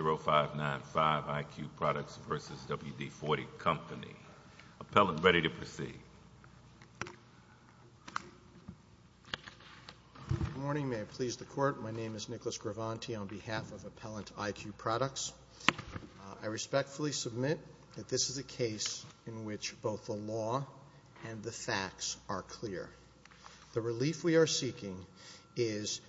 0595 IQ Products v. WD-40 Company. Appellant, ready to proceed. Good morning. May it please the Court, my name is Nicholas Gravanti on behalf of Appellant IQ Products. I respectfully submit that this is a case in which both the law and the facts are clear. The relief we are seeking is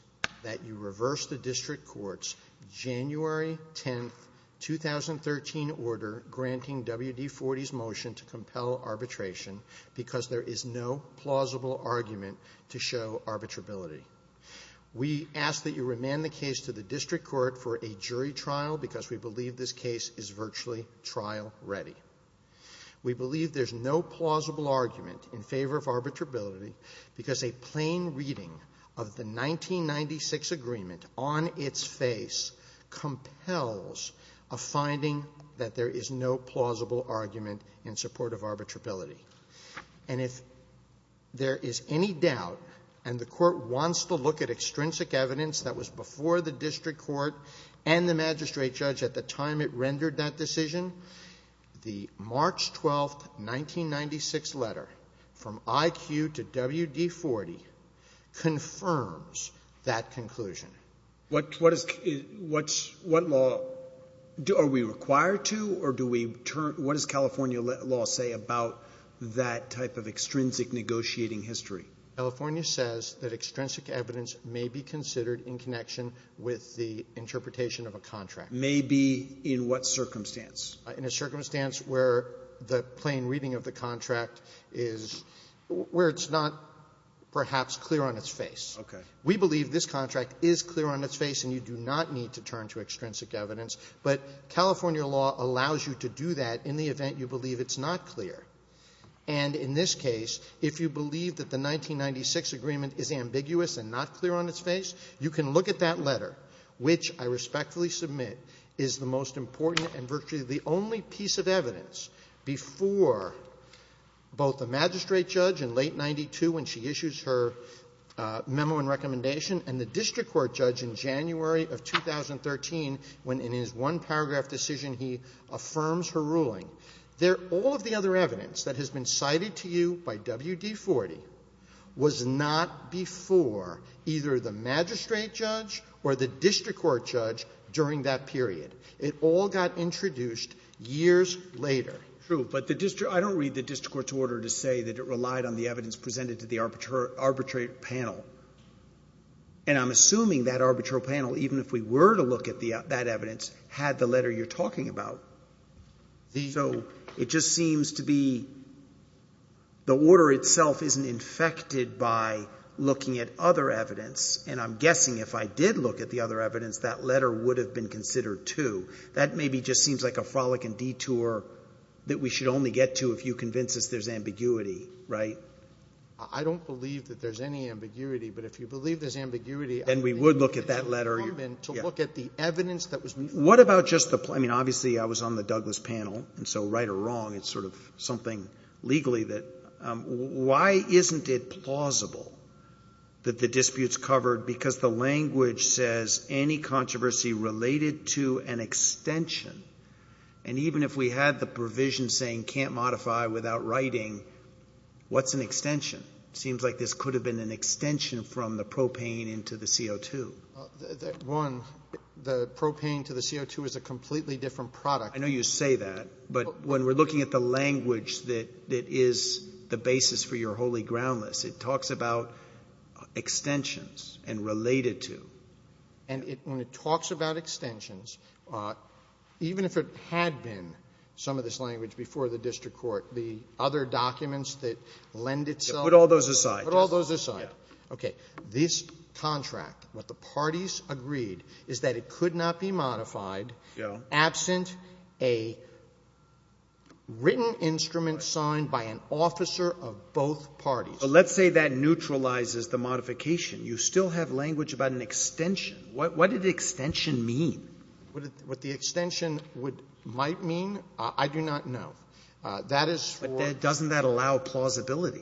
that you reverse the District Court's January 10, 2013 order granting WD-40's motion to compel arbitration because there is no plausible argument to show arbitrability. We ask that you remand the case to the District Court for a jury trial because we believe this case is virtually trial ready. We believe there is no plausible argument in favor of arbitrability because a plain reading of the 1996 agreement on its face compels a finding that there is no plausible argument in support of arbitrability. And if there is any doubt and the Court wants to look at extrinsic evidence that was before the District Court and the magistrate judge at the time it rendered that decision, the March 12, 1996 letter from IQ to WD-40 confirms that conclusion. What is, what law, are we required to or do we turn, what does California law say about that type of extrinsic negotiating history? California says that extrinsic evidence may be considered in connection with the interpretation of a contract. May be in what circumstance? In a circumstance where the plain reading of the contract is, where it's not perhaps clear on its face. Okay. We believe this contract is clear on its face and you do not need to turn to extrinsic evidence, but California law allows you to do that in the event you believe it's not clear. And in this case, if you believe that the 1996 agreement is ambiguous and not clear on its face, you can look at that letter, which I respectfully submit is the most important and virtually the only piece of evidence before both the magistrate judge in late 92 when she issues her memo and recommendation and the district court judge in January of 2013 when in his one paragraph decision he affirms her ruling. There, all of the other evidence that has been cited to you by WD-40 was not before either the magistrate judge or the district court judge during that period. It all got introduced years later. True, but the district, I don't read the district court's order to say that it relied on the arbitrary panel. And I'm assuming that arbitrary panel, even if we were to look at that evidence, had the letter you're talking about. So it just seems to be the order itself isn't infected by looking at other evidence. And I'm guessing if I did look at the other evidence, that letter would have been considered too. That maybe just seems like a frolic and detour that we should only get to if you convince us there's ambiguity, right? I don't believe that there's any ambiguity, but if you believe there's ambiguity, I think it's incumbent to look at the evidence that was before. What about just the, I mean, obviously I was on the Douglas panel, and so right or wrong, it's sort of something legally that, why isn't it plausible that the dispute's covered because the language says any controversy related to an extension, and even if we had the provision saying can't modify without writing, what's an extension? Seems like this could have been an extension from the propane into the CO2. One, the propane to the CO2 is a completely different product. I know you say that, but when we're looking at the language that is the basis for your holy groundless, it talks about extensions and related to. And when it talks about extensions, even if it had been some of this language before the district court, the other documents that lend itself. Put all those aside. Put all those aside. Yeah. Okay. This contract, what the parties agreed, is that it could not be modified absent a written instrument signed by an officer of both parties. But let's say that neutralizes the modification. You still have language about an extension. What did extension mean? What the extension might mean, I do not know. That is for But doesn't that allow plausibility?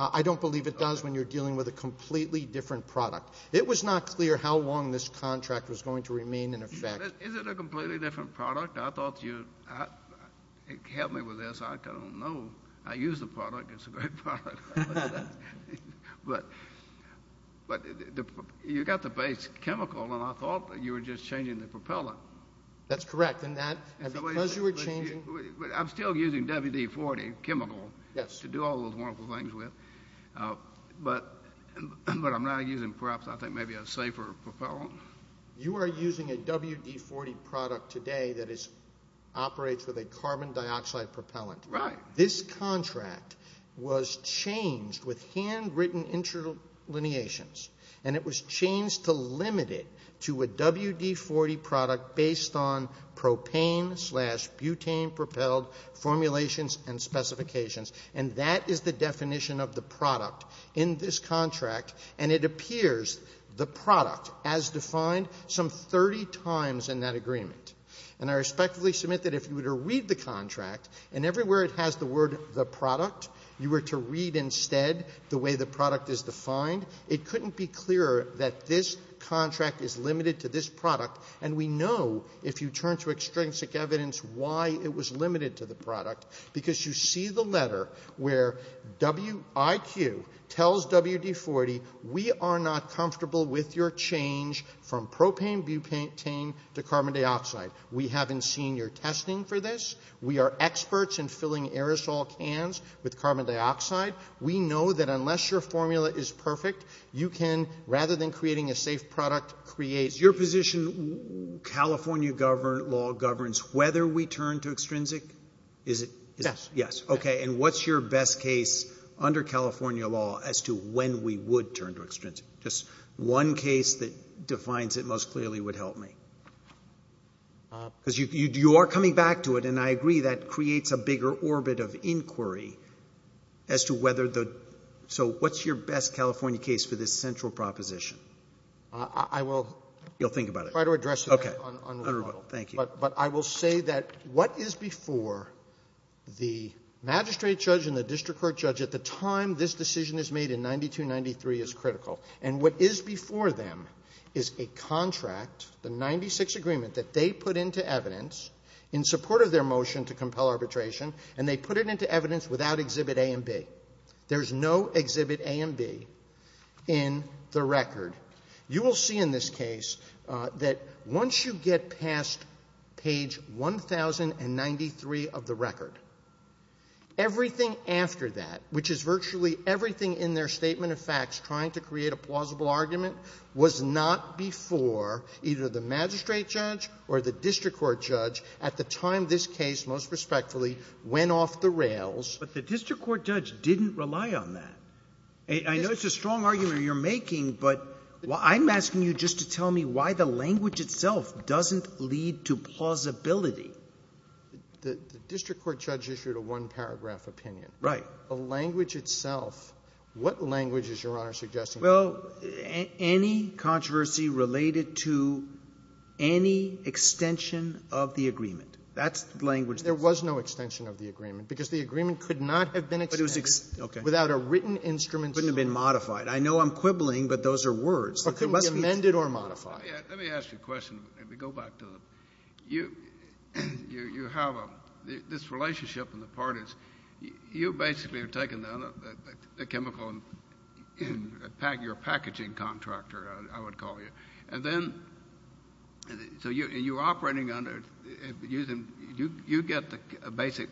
I don't believe it does when you're dealing with a completely different product. It was not clear how long this contract was going to remain in effect. Is it a completely different product? I thought you'd help me with this. I don't know. I use the product. It's a great product. But you've got the base chemical, and I thought you were just changing the propellant. That's correct. And because you were changing... I'm still using WD-40 chemical to do all those wonderful things with, but I'm now using perhaps I think maybe a safer propellant. You are using a WD-40 product today that operates with a carbon dioxide propellant. Right. This contract was changed with handwritten interlineations, and it was changed to limit it to a WD-40 product based on propane slash butane propelled formulations and specifications. And that is the definition of the product in this contract, and it appears the product as defined some 30 times in that agreement. And I respectfully submit that if you were to read the contract, and everywhere it has the word the product, you were to read instead the way the product is defined, it couldn't be clearer that this contract is limited to this product. And we know, if you turn to extrinsic evidence, why it was limited to the product. Because you see the letter where WIQ tells WD-40, we are not comfortable with your change from propane butane to carbon dioxide. We haven't seen your testing for this. We are experts in filling aerosol cans with carbon dioxide. We know that unless your formula is perfect, you can, rather than creating a safe product, create. Your position, California law governs whether we turn to extrinsic? Is it? Yes. Yes. Okay. And what's your best case under California law as to when we would turn to extrinsic? Just one case that defines it most clearly would help me. Because you are coming back to it, and I agree that creates a bigger orbit of inquiry as to whether the, so what's your best California case for this central proposition? I will try to address it on rebuttal. But I will say that what is before the magistrate judge and the district court judge at the time this decision is made in 9293 is critical. And what is before them is a contract, the 96 agreement that they put into evidence in support of their motion to compel arbitration, and they put it into evidence without Exhibit A and B. There's no Exhibit A and B in the record. You will see in this case that once you get past page 1093 of the record, everything after that, which is virtually everything in their statement of facts trying to create a plausible argument, was not before either the magistrate judge or the district court judge at the time this case, most respectfully, went off the rails. But the district court judge didn't rely on that. I know it's a strong argument you're making, but I'm asking you just to tell me why the language itself doesn't lead to plausibility. The district court judge issued a one-paragraph opinion. Right. The language itself, what language is Your Honor suggesting? Well, any controversy related to any extension of the agreement. That's the language. There was no extension of the agreement, because the agreement could not have been extended without a written instrument. It couldn't have been modified. I know I'm quibbling, but those are words. It couldn't be amended or modified. Let me ask you a question, and we go back to the — you have a — this relationship and the parties, you basically are taking the chemical and — you're a packaging contractor, I would call you. And then — so you're operating under — you get the basic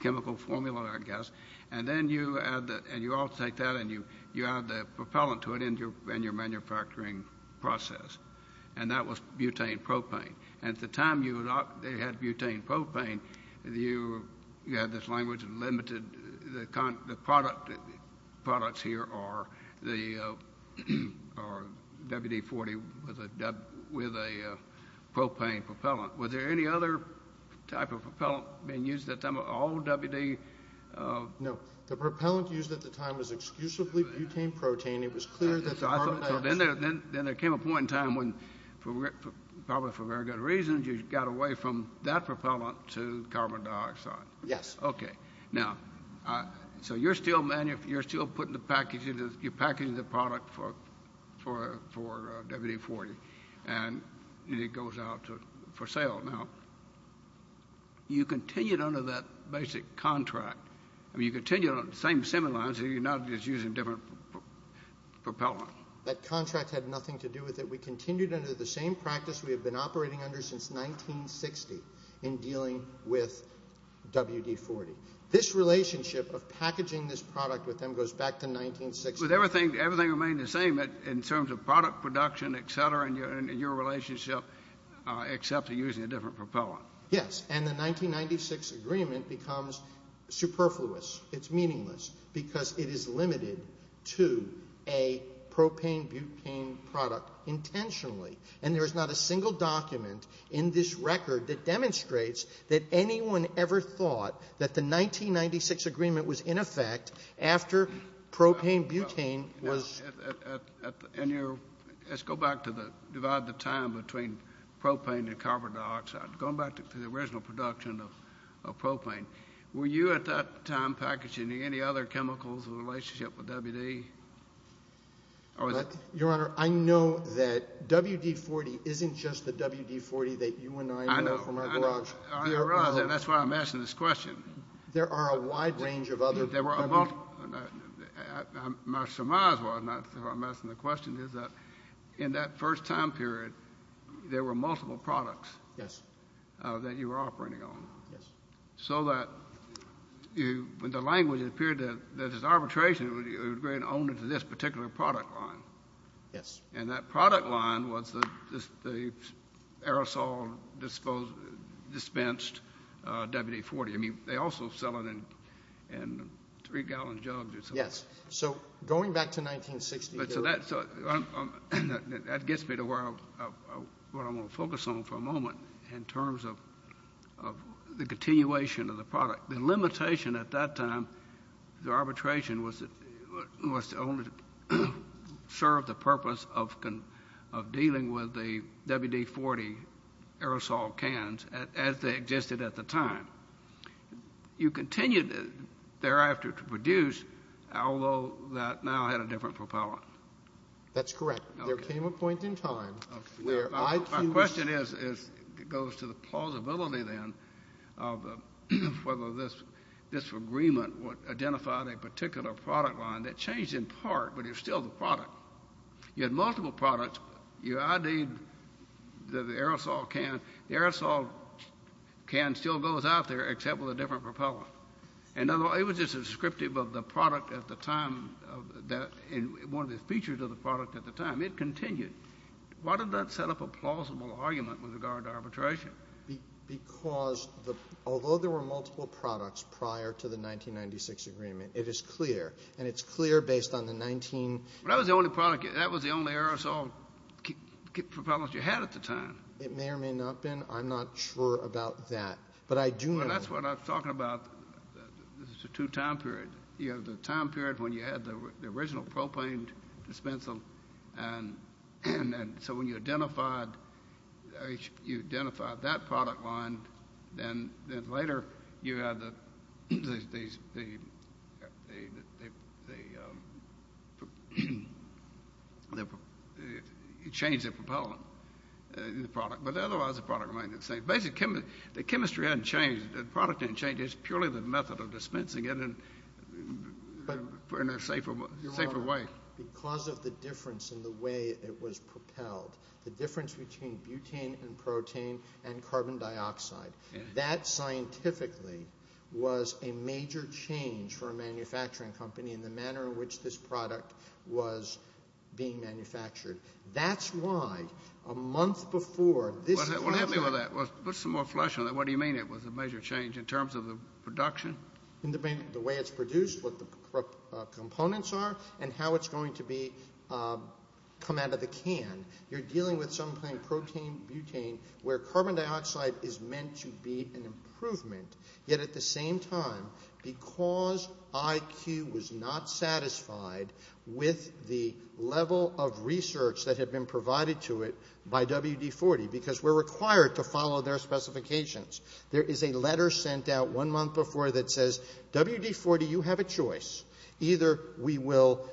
chemical formula, I guess, and then you add — and you all take that and you add the propellant to it in your manufacturing process. And that was butane propane. And at the time you had butane propane, you had this language of limited — the products here are the WD-40 with a propane propellant. Was there any other type of propellant being used at the time? All WD — No. The propellant used at the time was exclusively butane protein. It was clear that — So then there came a point in time when, probably for very good reasons, you got away from that propellant to carbon dioxide. Yes. Okay. Now, so you're still putting the packaging — you're packaging the product for WD-40, and it goes out for sale. Now, you continued under that basic contract. I mean, you continued on the same semi-lines, so you're not just using different propellant. That contract had nothing to do with it. We continued under the same practice we have been operating under since 1960 in dealing with WD-40. This relationship of packaging this product with them goes back to 1960. But everything remained the same in terms of product production, et cetera, and your relationship except using a different propellant. Yes. And the 1996 agreement becomes superfluous. It's meaningless because it is limited to a propane-butane product intentionally. And there is not a single document in this record that demonstrates that anyone ever thought that the 1996 agreement was in effect after propane-butane was — Let's go back to the — divide the time between propane and carbon dioxide. Going back to the original production of propane, were you at that time packaging any other chemicals in relationship with WD? Your Honor, I know that WD-40 isn't just the WD-40 that you and I know from our garage. I know. I realize that. That's why I'm asking this question. There are a wide range of other — There were a — my surmise was, and that's why I'm asking the question, is that in that first time period, there were multiple products. Yes. That you were operating on. Yes. So that you — when the language appeared that it was arbitration, it would agree an owner to this particular product line. Yes. And that product line was the aerosol-disposed — dispensed WD-40. I mean, they also sell it in three-gallon jugs or something. Yes. So, going back to 1960 — So that gets me to where I'm going to focus on for a moment in terms of the continuation of the product. The limitation at that time, the arbitration was to only serve the purpose of dealing with the WD-40 aerosol cans as they existed at the time. You continued thereafter to produce, although that now had a different propellant. That's correct. Okay. There came a point in time where I — Okay. My question is — goes to the plausibility, then, of whether this agreement would identify a particular product line that changed in part, but is still the product. You had multiple products. You IDed the aerosol can. The aerosol can still goes out there, except with a different propellant. In other words, it was just descriptive of the product at the time — one of the features of the product at the time. It continued. Why did that set up a plausible argument with regard to arbitration? Because the — although there were multiple products prior to the 1996 agreement, it is clear. And it's clear based on the 19 — But that was the only product — that was the only aerosol propellant you had at the time. It may or may not have been. I'm not sure about that. But I do know — Well, that's what I'm talking about. This is a two-time period. You have the time period when you had the original propaned dispensal, and then — so when you identified — you identified that product line, then later, you had the — you changed the propellant in the product, but otherwise the product remained the same. The chemistry hadn't changed. The product hadn't changed. It was purely the method of dispensing it in a safer way. Because of the difference in the way it was propelled, the difference between butane and protein and carbon dioxide, that scientifically was a major change for a manufacturing company in the manner in which this product was being manufactured. That's why a month before this — Well, help me with that. Put some more flesh on that. What do you mean it was a major change in terms of the production? In the way it's produced, what the components are, and how it's going to be — come out of the can. You're dealing with something, protein, butane, where carbon dioxide is meant to be an improvement. Yet at the same time, because IQ was not satisfied with the level of research that had been provided to it by WD-40, because we're required to follow their specifications, there is a letter sent out one month before that says, WD-40, you have a choice. Either we will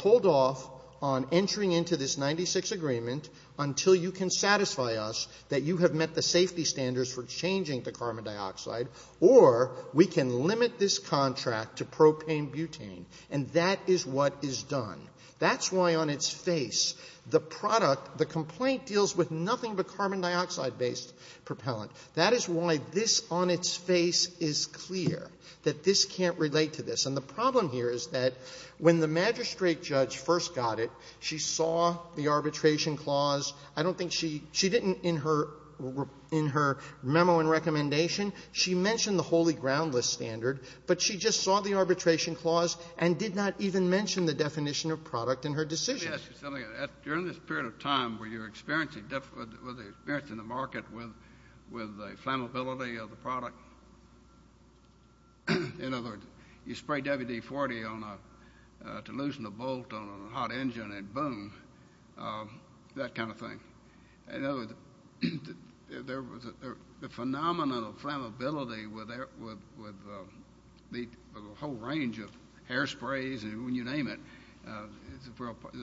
hold off on entering into this 96 agreement until you can satisfy us that you have met the safety standards for changing the carbon dioxide, or we can limit this contract to propane-butane. And that is what is done. That's why on its face, the product — the complaint deals with nothing but carbon dioxide-based propellant. That is why this on its face is clear, that this can't relate to this. And the problem here is that when the magistrate judge first got it, she saw the arbitration clause. I don't think she — she didn't, in her memo and recommendation, she mentioned the holy groundless standard, but she just saw the arbitration clause and did not even mention the definition of product in her decision. Let me ask you something. During this period of time where you're experiencing the market with the flammability of the product, in other words, you spray WD-40 to loosen a bolt on a hot engine and boom, that kind of thing. In other words, there was a phenomenon of flammability with the whole range of hairsprays and you name it. It's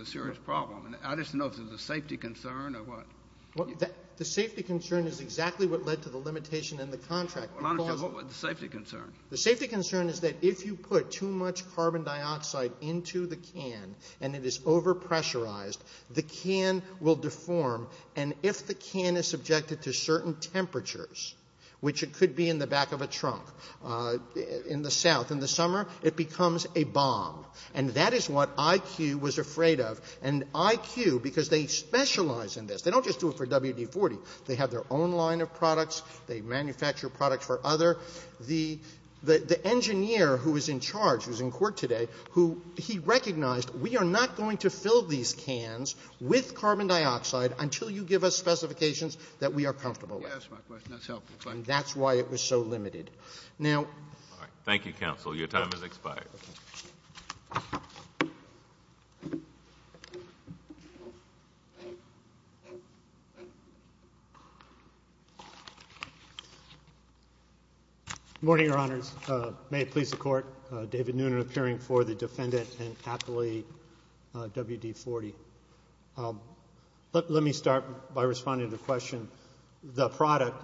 a serious problem. I just don't know if there's a safety concern or what. The safety concern is exactly what led to the limitation in the contract. The safety concern? The safety concern is that if you put too much carbon dioxide into the can and it is over-pressurized, the can will deform. And if the can is subjected to certain temperatures, which it could be in the back of a trunk, in the south, in the summer, it becomes a bomb. And that is what IQ was afraid of. And IQ, because they specialize in this, they don't just do it for WD-40, they have their own line of products, they manufacture products for others. The engineer who is in charge, who is in court today, he recognized we are not going to fill these cans with carbon dioxide until you give us specifications that we are comfortable with. That's my question. That's helpful. And that's why it was so limited. Thank you, counsel. Your time has expired. Good morning, Your Honors. May it please the Court. David Noonan, appearing for the defendant and appellee, WD-40. Let me start by responding to the question. The product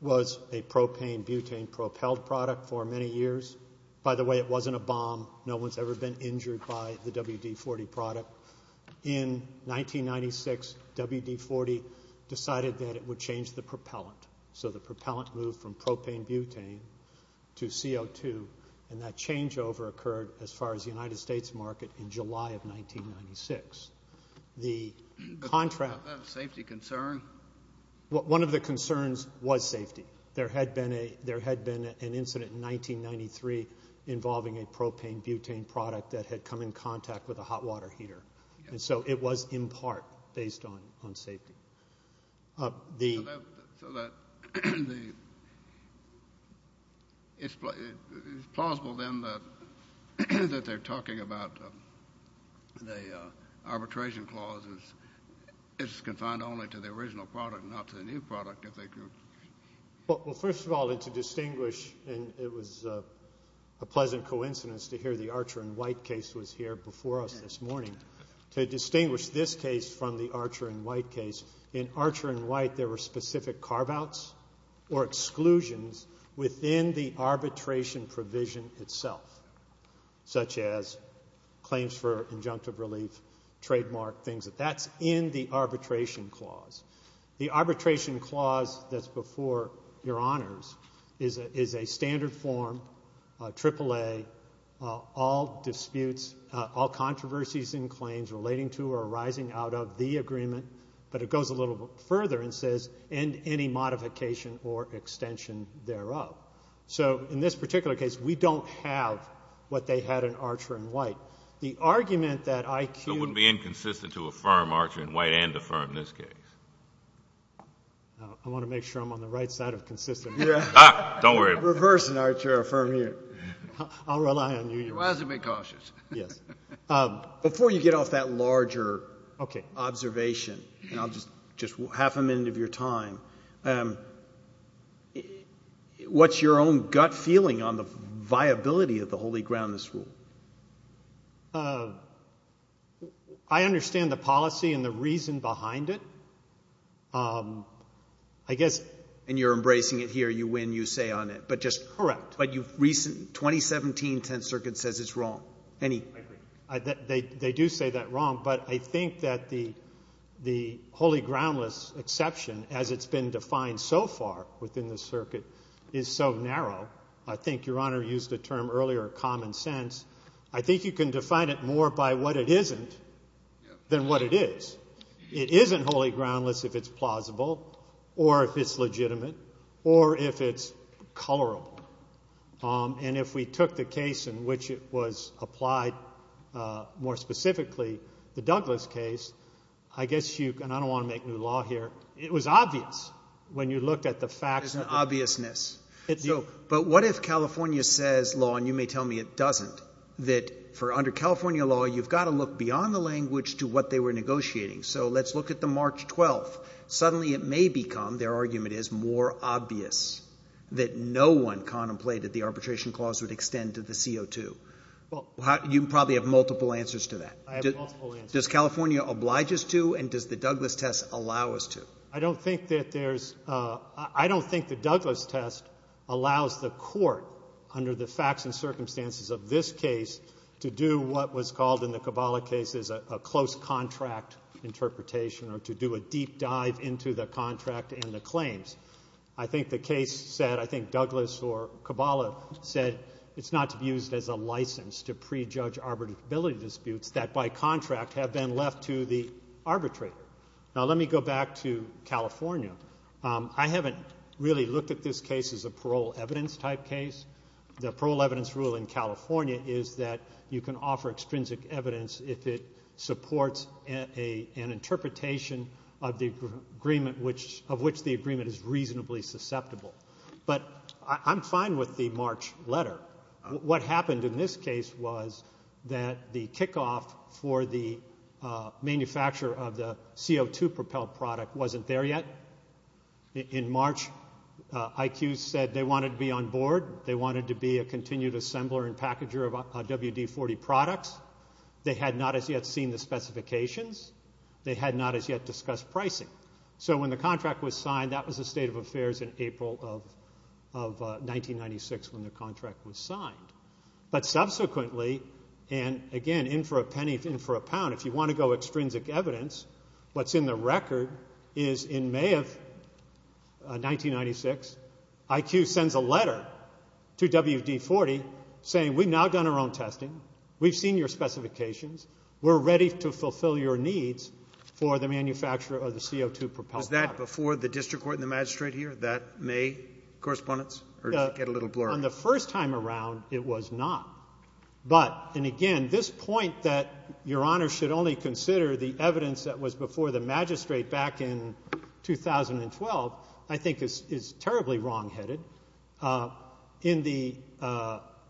was a propane-butane propelled product for many years. By the way, it wasn't a bomb. No one has ever been injured by the WD-40 product. In 1996, WD-40 decided that it would change the propellant. So the propellant moved from propane-butane to CO2. And that changeover occurred, as far as the United States market, in July of 1996. Was that a safety concern? One of the concerns was safety. There had been an incident in 1993 involving a propane-butane product that had come in contact with a hot water heater, and so it was, in part, based on safety. So it's plausible, then, that they're talking about the arbitration clauses. It's confined only to the original product and not to the new product, if they could. Well, first of all, to distinguish, and it was a pleasant coincidence to hear the Archer and White case was here before us this morning, to distinguish this case from the Archer and White case. In Archer and White, there were specific carve-outs or exclusions within the arbitration provision itself, such as claims for injunctive relief, trademark, things like that. That's in the arbitration clause. The arbitration clause that's before Your Honors is a standard form, triple A, all disputes, all controversies and claims relating to or arising out of the agreement, but it goes a little further and says, and any modification or extension thereof. So in this particular case, we don't have what they had in Archer and White. The argument that IQ ---- to affirm Archer and White and affirm this case. I want to make sure I'm on the right side of consistency. Don't worry about it. Reverse in Archer and Affirm here. I'll rely on you. You have to be cautious. Yes. Before you get off that larger observation, and I'll just half a minute of your time, what's your own gut feeling on the viability of the Holy Groundless Rule? I understand the policy and the reason behind it. I guess ---- And you're embracing it here. You win. You say on it, but just ---- Correct. But you've recently ---- 2017 Tenth Circuit says it's wrong. Any ---- I agree. They do say that wrong, but I think that the Holy Groundless exception, as it's been defined so far within the circuit, is so narrow. I think Your Honor used the term earlier, common sense. I think you can define it more by what it isn't than what it is. It isn't holy groundless if it's plausible or if it's legitimate or if it's colorable. And if we took the case in which it was applied, more specifically the Douglas case, I guess you can ---- and I don't want to make new law here. It was obvious when you looked at the facts. There's an obviousness. But what if California says law, and you may tell me it doesn't, that for under California law, you've got to look beyond the language to what they were negotiating. So let's look at the March 12th. Suddenly it may become, their argument is, more obvious that no one contemplated the arbitration clause would extend to the CO2. You probably have multiple answers to that. I have multiple answers. Does California oblige us to and does the Douglas test allow us to? I don't think that there's ---- I don't think the Douglas test allows the court, under the facts and circumstances of this case, to do what was called in the Cabala case as a close contract interpretation or to do a deep dive into the contract and the claims. I think the case said, I think Douglas or Cabala said it's not to be used as a license to prejudge arbitrability disputes that by contract have been left to the arbitrator. Now let me go back to California. I haven't really looked at this case as a parole evidence type case. The parole evidence rule in California is that you can offer extrinsic evidence if it supports an interpretation of the agreement of which the agreement is reasonably susceptible. But I'm fine with the March letter. What happened in this case was that the kickoff for the manufacture of the CO2 propelled product wasn't there yet. In March IQ said they wanted to be on board. They wanted to be a continued assembler and packager of WD-40 products. They had not as yet seen the specifications. They had not as yet discussed pricing. So when the contract was signed, that was the state of affairs in April of 1996 when the contract was signed. But subsequently, and again, in for a penny, in for a pound, if you want to go extrinsic evidence, what's in the record is in May of 1996, IQ sends a letter to WD-40 saying we've now done our own testing. We've seen your specifications. We're ready to fulfill your needs for the manufacture of the CO2 propelled product. Was that before the district court and the magistrate here, that May correspondence, or did it get a little blurry? On the first time around, it was not. But, and again, this point that Your Honor should only consider the evidence that was before the magistrate back in 2012 I think is terribly wrongheaded. On the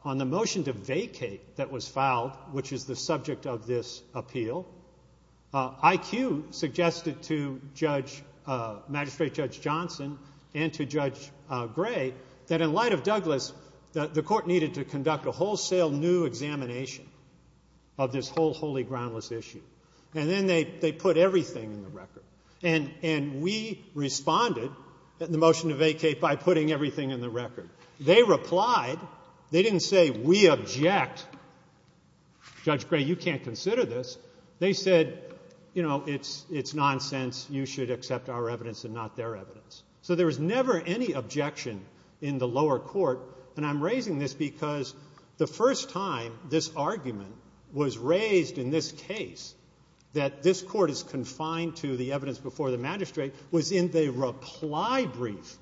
motion to vacate that was filed, which is the subject of this appeal, IQ suggested to magistrate Judge Johnson and to Judge Gray that in light of Douglas, the court needed to conduct a wholesale new examination of this whole holy groundless issue. And then they put everything in the record. And we responded, the motion to vacate, by putting everything in the record. They replied. They didn't say we object. Judge Gray, you can't consider this. They said, you know, it's nonsense. You should accept our evidence and not their evidence. So there was never any objection in the lower court. And I'm raising this because the first time this argument was raised in this case, that this court is confined to the evidence before the magistrate, was in the reply brief.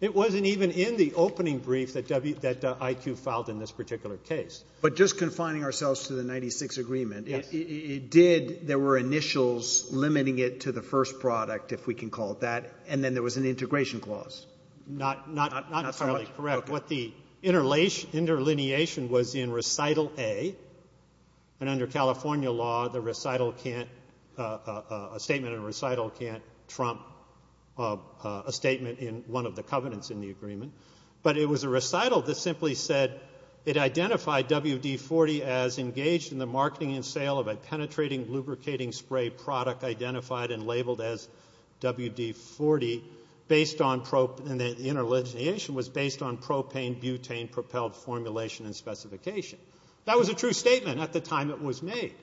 It wasn't even in the opening brief that IQ filed in this particular case. But just confining ourselves to the 1996 agreement, it did, there were initials limiting it to the first product, if we can call it that, and then there was an integration clause. Not entirely correct. What the interlineation was in Recital A, and under California law, a statement in a recital can't trump a statement in one of the covenants in the agreement. But it was a recital that simply said it identified WD-40 as engaged in the marketing and sale of a penetrating lubricating spray product identified and labeled as WD-40, and the interlineation was based on propane-butane propelled formulation and specification. That was a true statement at the time it was made.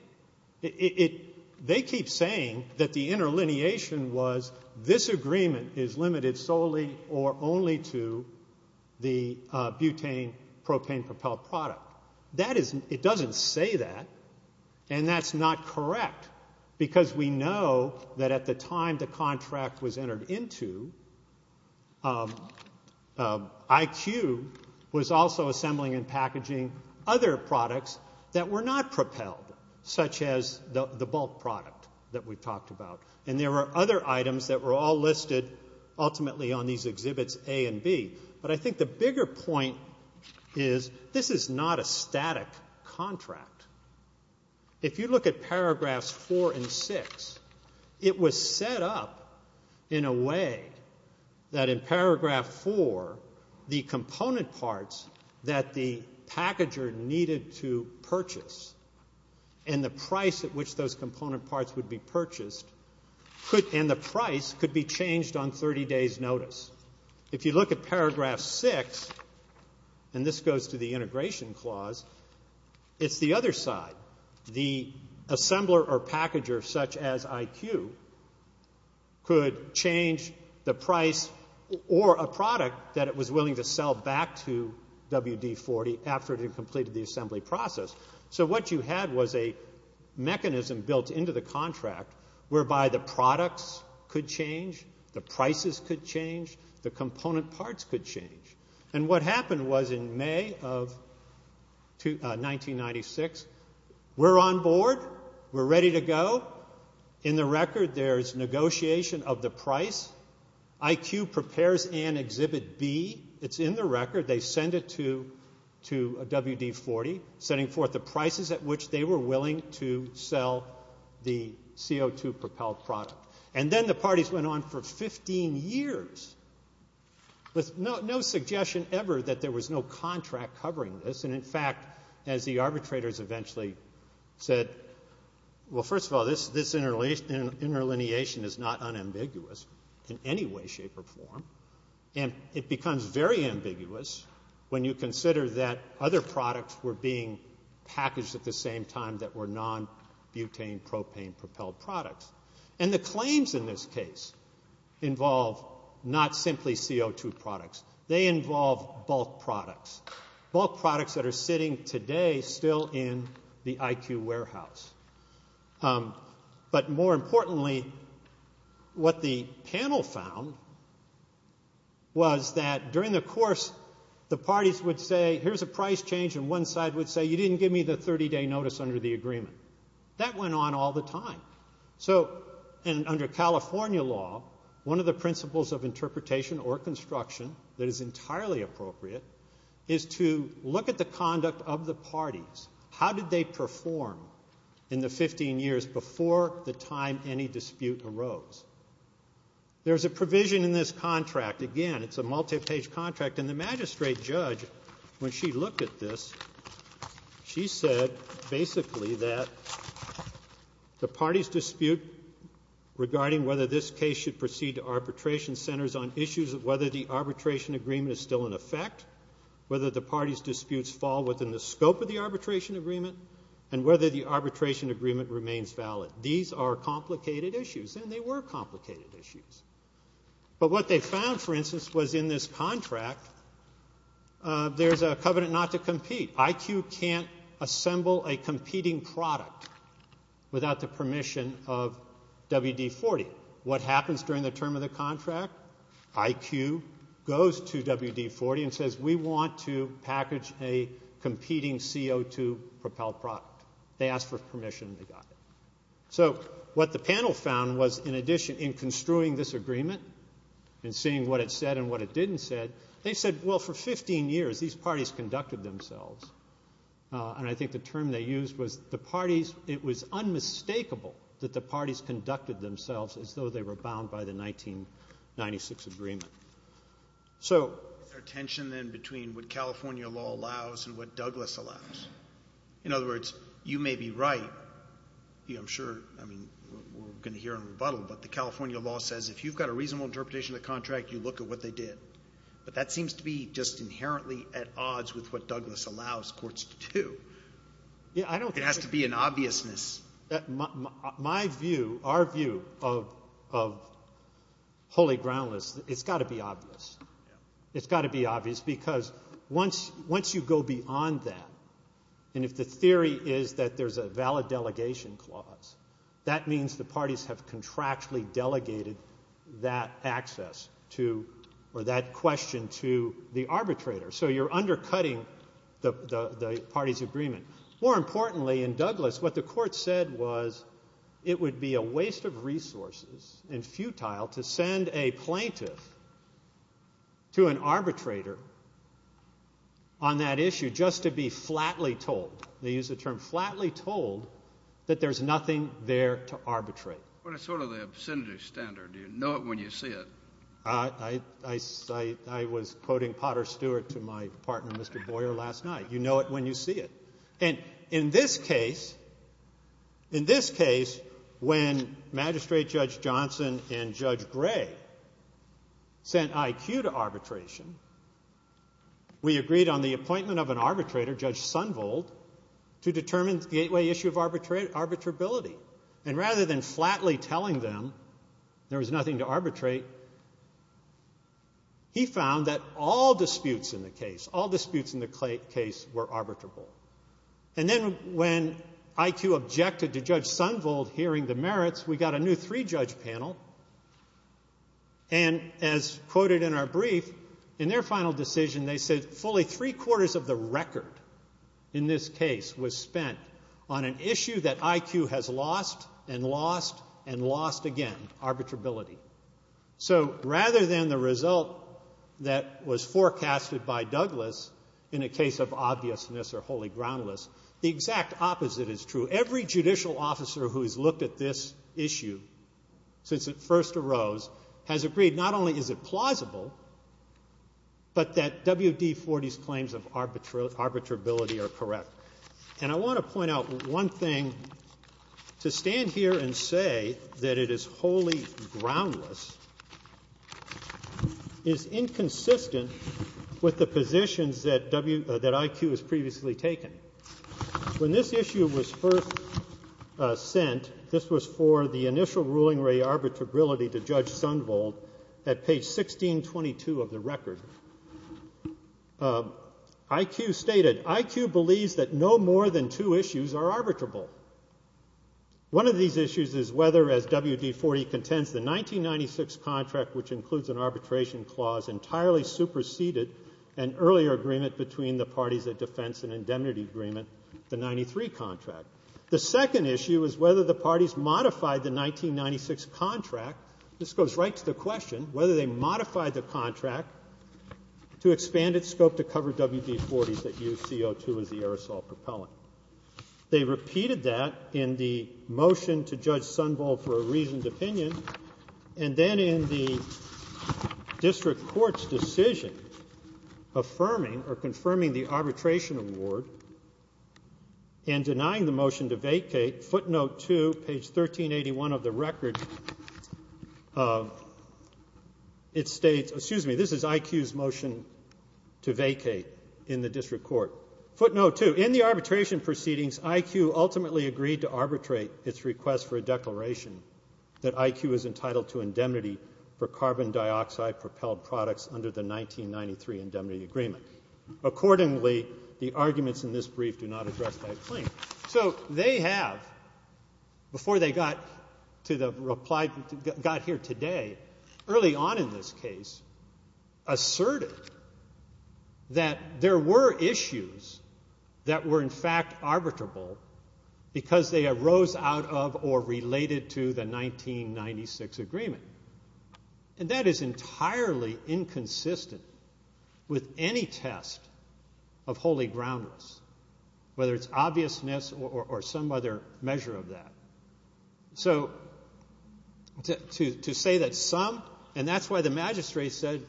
They keep saying that the interlineation was this agreement is limited solely or only to the butane-propane propelled product. It doesn't say that, and that's not correct, because we know that at the time the contract was entered into, IQ was also assembling and packaging other products that were not propelled, such as the bulk product that we've talked about, and there were other items that were all listed ultimately on these exhibits A and B. But I think the bigger point is this is not a static contract. If you look at paragraphs four and six, it was set up in a way that in paragraph four, the component parts that the packager needed to purchase and the price at which those component parts would be purchased could and the price could be changed on 30 days' notice. If you look at paragraph six, and this goes to the integration clause, it's the other side. The assembler or packager such as IQ could change the price or a product that it was willing to sell back to WD-40 after it had completed the assembly process. So what you had was a mechanism built into the contract whereby the products could change, the prices could change, the component parts could change. And what happened was in May of 1996, we're on board, we're ready to go. In the record, there's negotiation of the price. IQ prepares and exhibit B. It's in the record. They send it to WD-40, sending forth the prices at which they were willing to sell the CO2 propelled product. And then the parties went on for 15 years with no suggestion ever that there was no contract covering this. And, in fact, as the arbitrators eventually said, well, first of all, this interlineation is not unambiguous in any way, shape, or form. And it becomes very ambiguous when you consider that other products were being packaged at the same time that were non-butane propane propelled products. And the claims in this case involve not simply CO2 products. They involve bulk products, bulk products that are sitting today still in the IQ warehouse. But more importantly, what the panel found was that during the course, the parties would say, here's a price change, and one side would say, That went on all the time. So, and under California law, one of the principles of interpretation or construction that is entirely appropriate is to look at the conduct of the parties. How did they perform in the 15 years before the time any dispute arose? There's a provision in this contract. Again, it's a multi-page contract. And the magistrate judge, when she looked at this, she said basically that the party's dispute regarding whether this case should proceed to arbitration centers on issues of whether the arbitration agreement is still in effect, whether the party's disputes fall within the scope of the arbitration agreement, and whether the arbitration agreement remains valid. These are complicated issues, and they were complicated issues. But what they found, for instance, was in this contract, there's a covenant not to compete. IQ can't assemble a competing product without the permission of WD-40. What happens during the term of the contract? IQ goes to WD-40 and says, We want to package a competing CO2 propel product. They ask for permission, and they got it. So what the panel found was, in addition, in construing this agreement and seeing what it said and what it didn't say, they said, Well, for 15 years these parties conducted themselves. And I think the term they used was the parties, it was unmistakable that the parties conducted themselves as though they were bound by the 1996 agreement. So there's a tension then between what California law allows and what Douglas allows. In other words, you may be right. I'm sure we're going to hear a rebuttal, but the California law says if you've got a reasonable interpretation of the contract, you look at what they did. But that seems to be just inherently at odds with what Douglas allows courts to do. It has to be an obviousness. My view, our view of holy groundless, it's got to be obvious. It's got to be obvious because once you go beyond that, and if the theory is that there's a valid delegation clause, that means the parties have contractually delegated that access to or that question to the arbitrator. So you're undercutting the party's agreement. More importantly, in Douglas, what the court said was it would be a waste of resources and futile to send a plaintiff to an arbitrator on that issue just to be flatly told. They use the term flatly told that there's nothing there to arbitrate. But it's sort of the obscenity standard. You know it when you see it. I was quoting Potter Stewart to my partner, Mr. Boyer, last night. You know it when you see it. And in this case, when Magistrate Judge Johnson and Judge Gray sent IQ to arbitration, we agreed on the appointment of an arbitrator, Judge Sunvold, to determine the gateway issue of arbitrability. And rather than flatly telling them there was nothing to arbitrate, he found that all disputes in the case, all disputes in the case were arbitrable. And then when IQ objected to Judge Sunvold hearing the merits, we got a new three-judge panel. And as quoted in our brief, in their final decision, they said fully three-quarters of the record in this case was spent on an issue that IQ has lost and lost and lost again, arbitrability. So rather than the result that was forecasted by Douglas in a case of obviousness or wholly groundless, the exact opposite is true. Every judicial officer who has looked at this issue since it first arose has agreed not only is it plausible, but that WD-40's claims of arbitrability are correct. And I want to point out one thing. To stand here and say that it is wholly groundless is inconsistent with the positions that IQ has previously taken. When this issue was first sent, this was for the initial ruling re-arbitrability to Judge Sunvold at page 1622 of the record. IQ stated, IQ believes that no more than two issues are arbitrable. One of these issues is whether, as WD-40 contends, the 1996 contract, which includes an arbitration clause, entirely superseded an earlier agreement between the parties of defense and indemnity agreement, the 93 contract. The second issue is whether the parties modified the 1996 contract. This goes right to the question, whether they modified the contract to expand its scope to cover WD-40s that used CO2 as the aerosol propellant. They repeated that in the motion to Judge Sunvold for a reasoned opinion, and then in the district court's decision affirming or confirming the arbitration award and denying the motion to vacate, footnote 2, page 1381 of the record, it states, excuse me, this is IQ's motion to vacate in the district court. Footnote 2, in the arbitration proceedings, states IQ ultimately agreed to arbitrate its request for a declaration that IQ is entitled to indemnity for carbon dioxide propelled products under the 1993 indemnity agreement. Accordingly, the arguments in this brief do not address that claim. So they have, before they got to the reply, got here today, early on in this case, asserted that there were issues that were in fact arbitrable because they arose out of or related to the 1996 agreement. And that is entirely inconsistent with any test of holy groundless, whether it's obviousness or some other measure of that. So to say that some, and that's why the magistrate said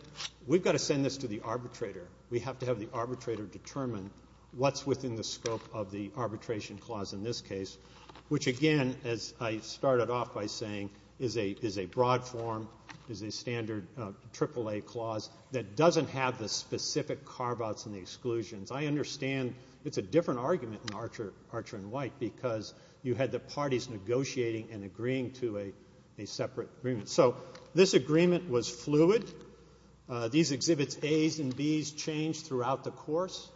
we've got to send this to the arbitrator. We have to have the arbitrator determine what's within the scope of the arbitration clause in this case, which again, as I started off by saying, is a broad form, is a standard AAA clause that doesn't have the specific carve-outs and the exclusions. I understand it's a different argument in Archer and White because you had the parties negotiating and agreeing to a separate agreement. So this agreement was fluid. These exhibits A's and B's changed throughout the course.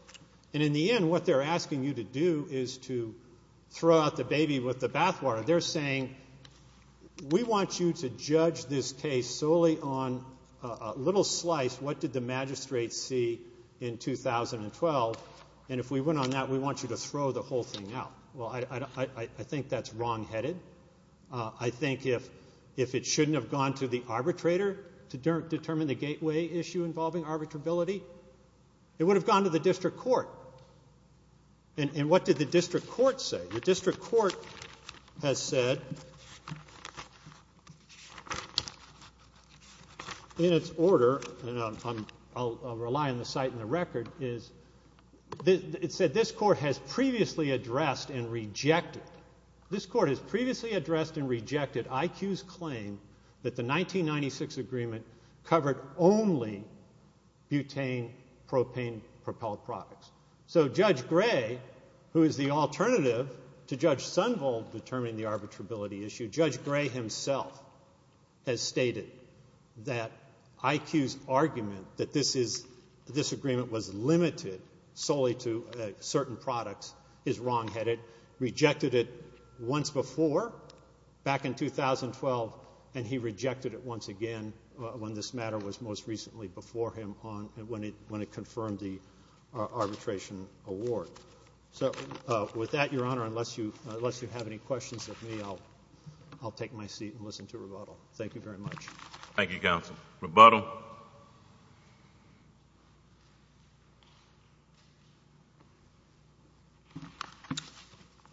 And in the end, what they're asking you to do is to throw out the baby with the bathwater. They're saying we want you to judge this case solely on a little slice, what did the magistrate see in 2012, and if we went on that, we want you to throw the whole thing out. Well, I think that's wrongheaded. I think if it shouldn't have gone to the arbitrator to determine the gateway issue involving arbitrability, it would have gone to the district court. And what did the district court say? The district court has said in its order, and I'll rely on the site and the record, it said this court has previously addressed and rejected IQ's claim that the 1996 agreement covered only butane propane propelled products. So Judge Gray, who is the alternative to Judge Sunvold determining the arbitrability issue, Judge Gray himself has stated that IQ's argument that this agreement was limited solely to certain products is wrongheaded, rejected it once before back in 2012, and he rejected it once again when this matter was most recently before him when it confirmed the arbitration award. So with that, Your Honor, unless you have any questions of me, I'll take my seat and listen to rebuttal. Thank you very much. Thank you, counsel.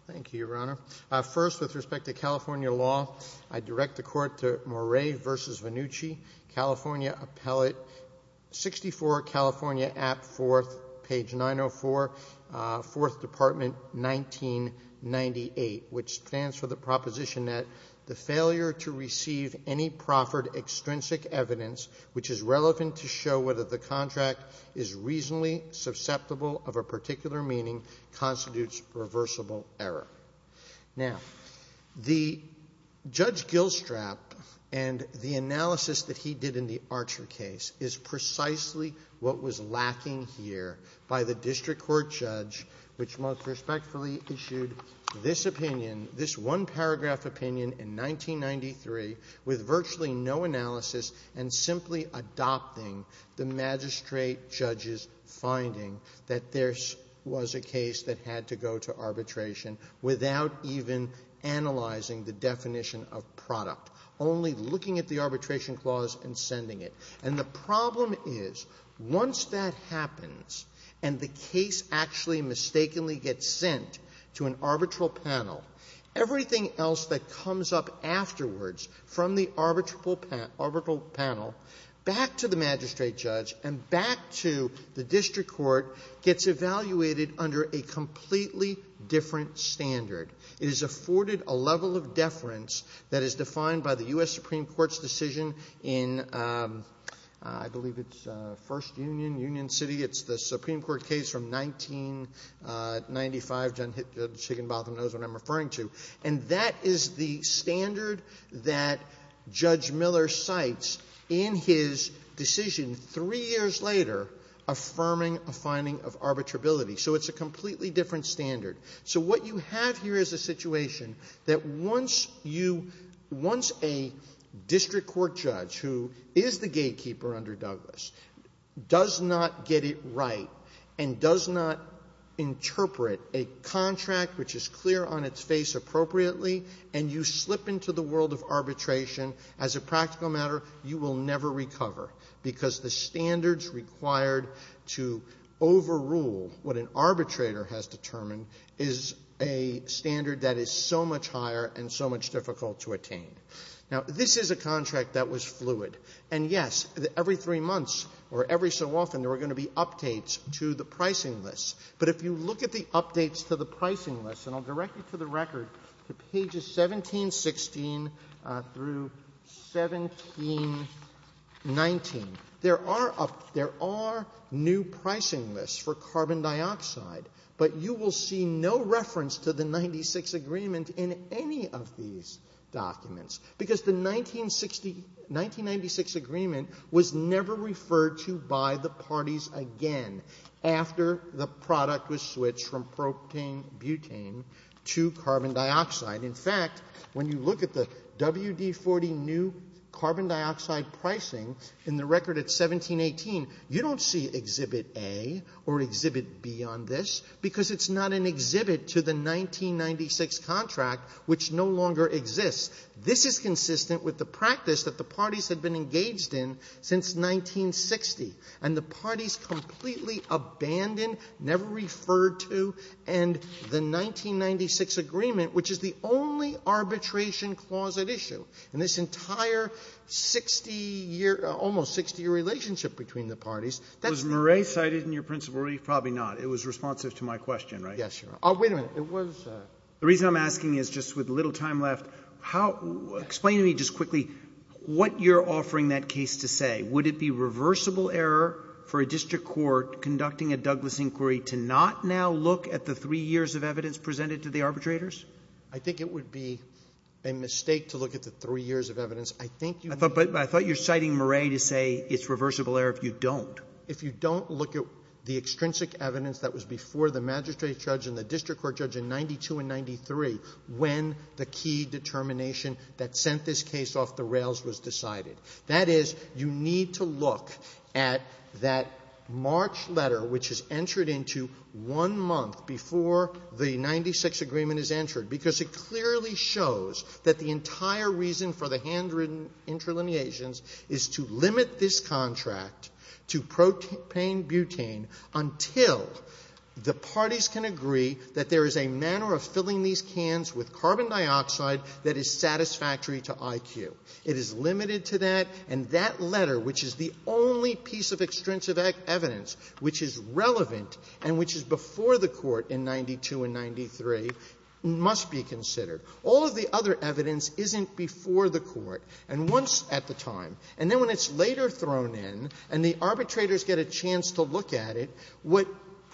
Thank you, Your Honor. First, with respect to California law, I direct the court to Moret v. Vannucci, California Appellate 64, California Act IV, page 904, Fourth Department, 1998, which stands for the proposition that the failure to receive any proffered extrinsic evidence which is relevant to show whether the contract is reasonably susceptible of a particular meaning constitutes reversible error. Now, the Judge Gilstrap and the analysis that he did in the Archer case is precisely what was lacking here by the district court judge, which most respectfully issued this opinion, this one-paragraph opinion in 1993, with virtually no analysis, and simply adopting the magistrate judge's finding that there was a case that had to go to arbitration without even analyzing the definition of product, only looking at the arbitration clause and sending it. And the problem is, once that happens and the case actually mistakenly gets sent to an arbitral panel, everything else that comes up afterwards from the arbitral panel back to the magistrate judge and back to the district court gets evaluated under a completely different standard. It is afforded a level of deference that is defined by the U.S. Supreme Court's decision in, I believe it's First Union, Union City, it's the Supreme Court case from 1995, John Higginbotham knows what I'm referring to, and that is the standard that Judge Miller cites in his decision three years later affirming a finding of arbitrability. So it's a completely different standard. So what you have here is a situation that once you, once a district court judge, who is the gatekeeper under Douglas, does not get it right and does not interpret a contract which is clear on its face appropriately, and you slip into the world of arbitration, as a practical matter, you will never recover, because the standards required to overrule what an arbitrator has determined is a standard that is so much higher and so much difficult to attain. Now, this is a contract that was fluid. And, yes, every three months, or every so often, there are going to be updates to the pricing list. But if you look at the updates to the pricing list, and I'll direct you to the record to pages 1716 through 1719, there are new pricing lists for carbon dioxide, but you will see no reference to the 1996 agreement in any of these documents, because the 1960 1996 agreement was never referred to by the parties again after the product was switched from protein butane to carbon dioxide. In fact, when you look at the WD-40 new carbon dioxide pricing in the record at 1718, you don't see Exhibit A or Exhibit B on this, because it's not an exhibit to the 1996 contract, which no longer exists. This is consistent with the practice that the parties have been engaged in since 1960, and the parties completely abandoned, never referred to, and the 1996 agreement, which is the only arbitration clause at issue in this entire 60-year, almost 60-year relationship between the parties. That's the only one. Roberts. Was Murray cited in your principle? Probably not. It was responsive to my question, right? Yes, Your Honor. Oh, wait a minute. It was. The reason I'm asking is just with little time left, how — explain to me just quickly what you're offering that case to say. Would it be reversible error for a district court conducting a Douglas inquiry to not now look at the three years of evidence presented to the arbitrators? I think it would be a mistake to look at the three years of evidence. I think you — But I thought you're citing Murray to say it's reversible error if you don't. If you don't look at the extrinsic evidence that was before the magistrate judge and the district court judge in 92 and 93 when the key determination that sent this case off the rails was decided. That is, you need to look at that March letter, which is entered into one month before the 96 agreement is entered, because it clearly shows that the entire reason for the handwritten interlineations is to limit this contract to propane-butane until the parties can agree that there is a manner of filling these cans with carbon dioxide that is satisfactory to IQ. It is limited to that, and that letter, which is the only piece of extrinsic evidence which is relevant and which is before the Court in 92 and 93, must be considered. All of the other evidence isn't before the Court, and once at the time. And then when it's later thrown in and the arbitrators get a chance to look at it, what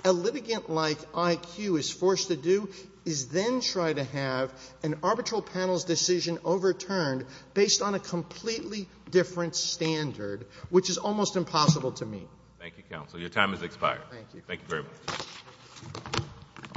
a litigant like IQ is forced to do is then try to have an arbitral panel's decision overturned based on a completely different standard, which is almost impossible to meet. Thank you, counsel. Your time has expired. Thank you. Thank you very much.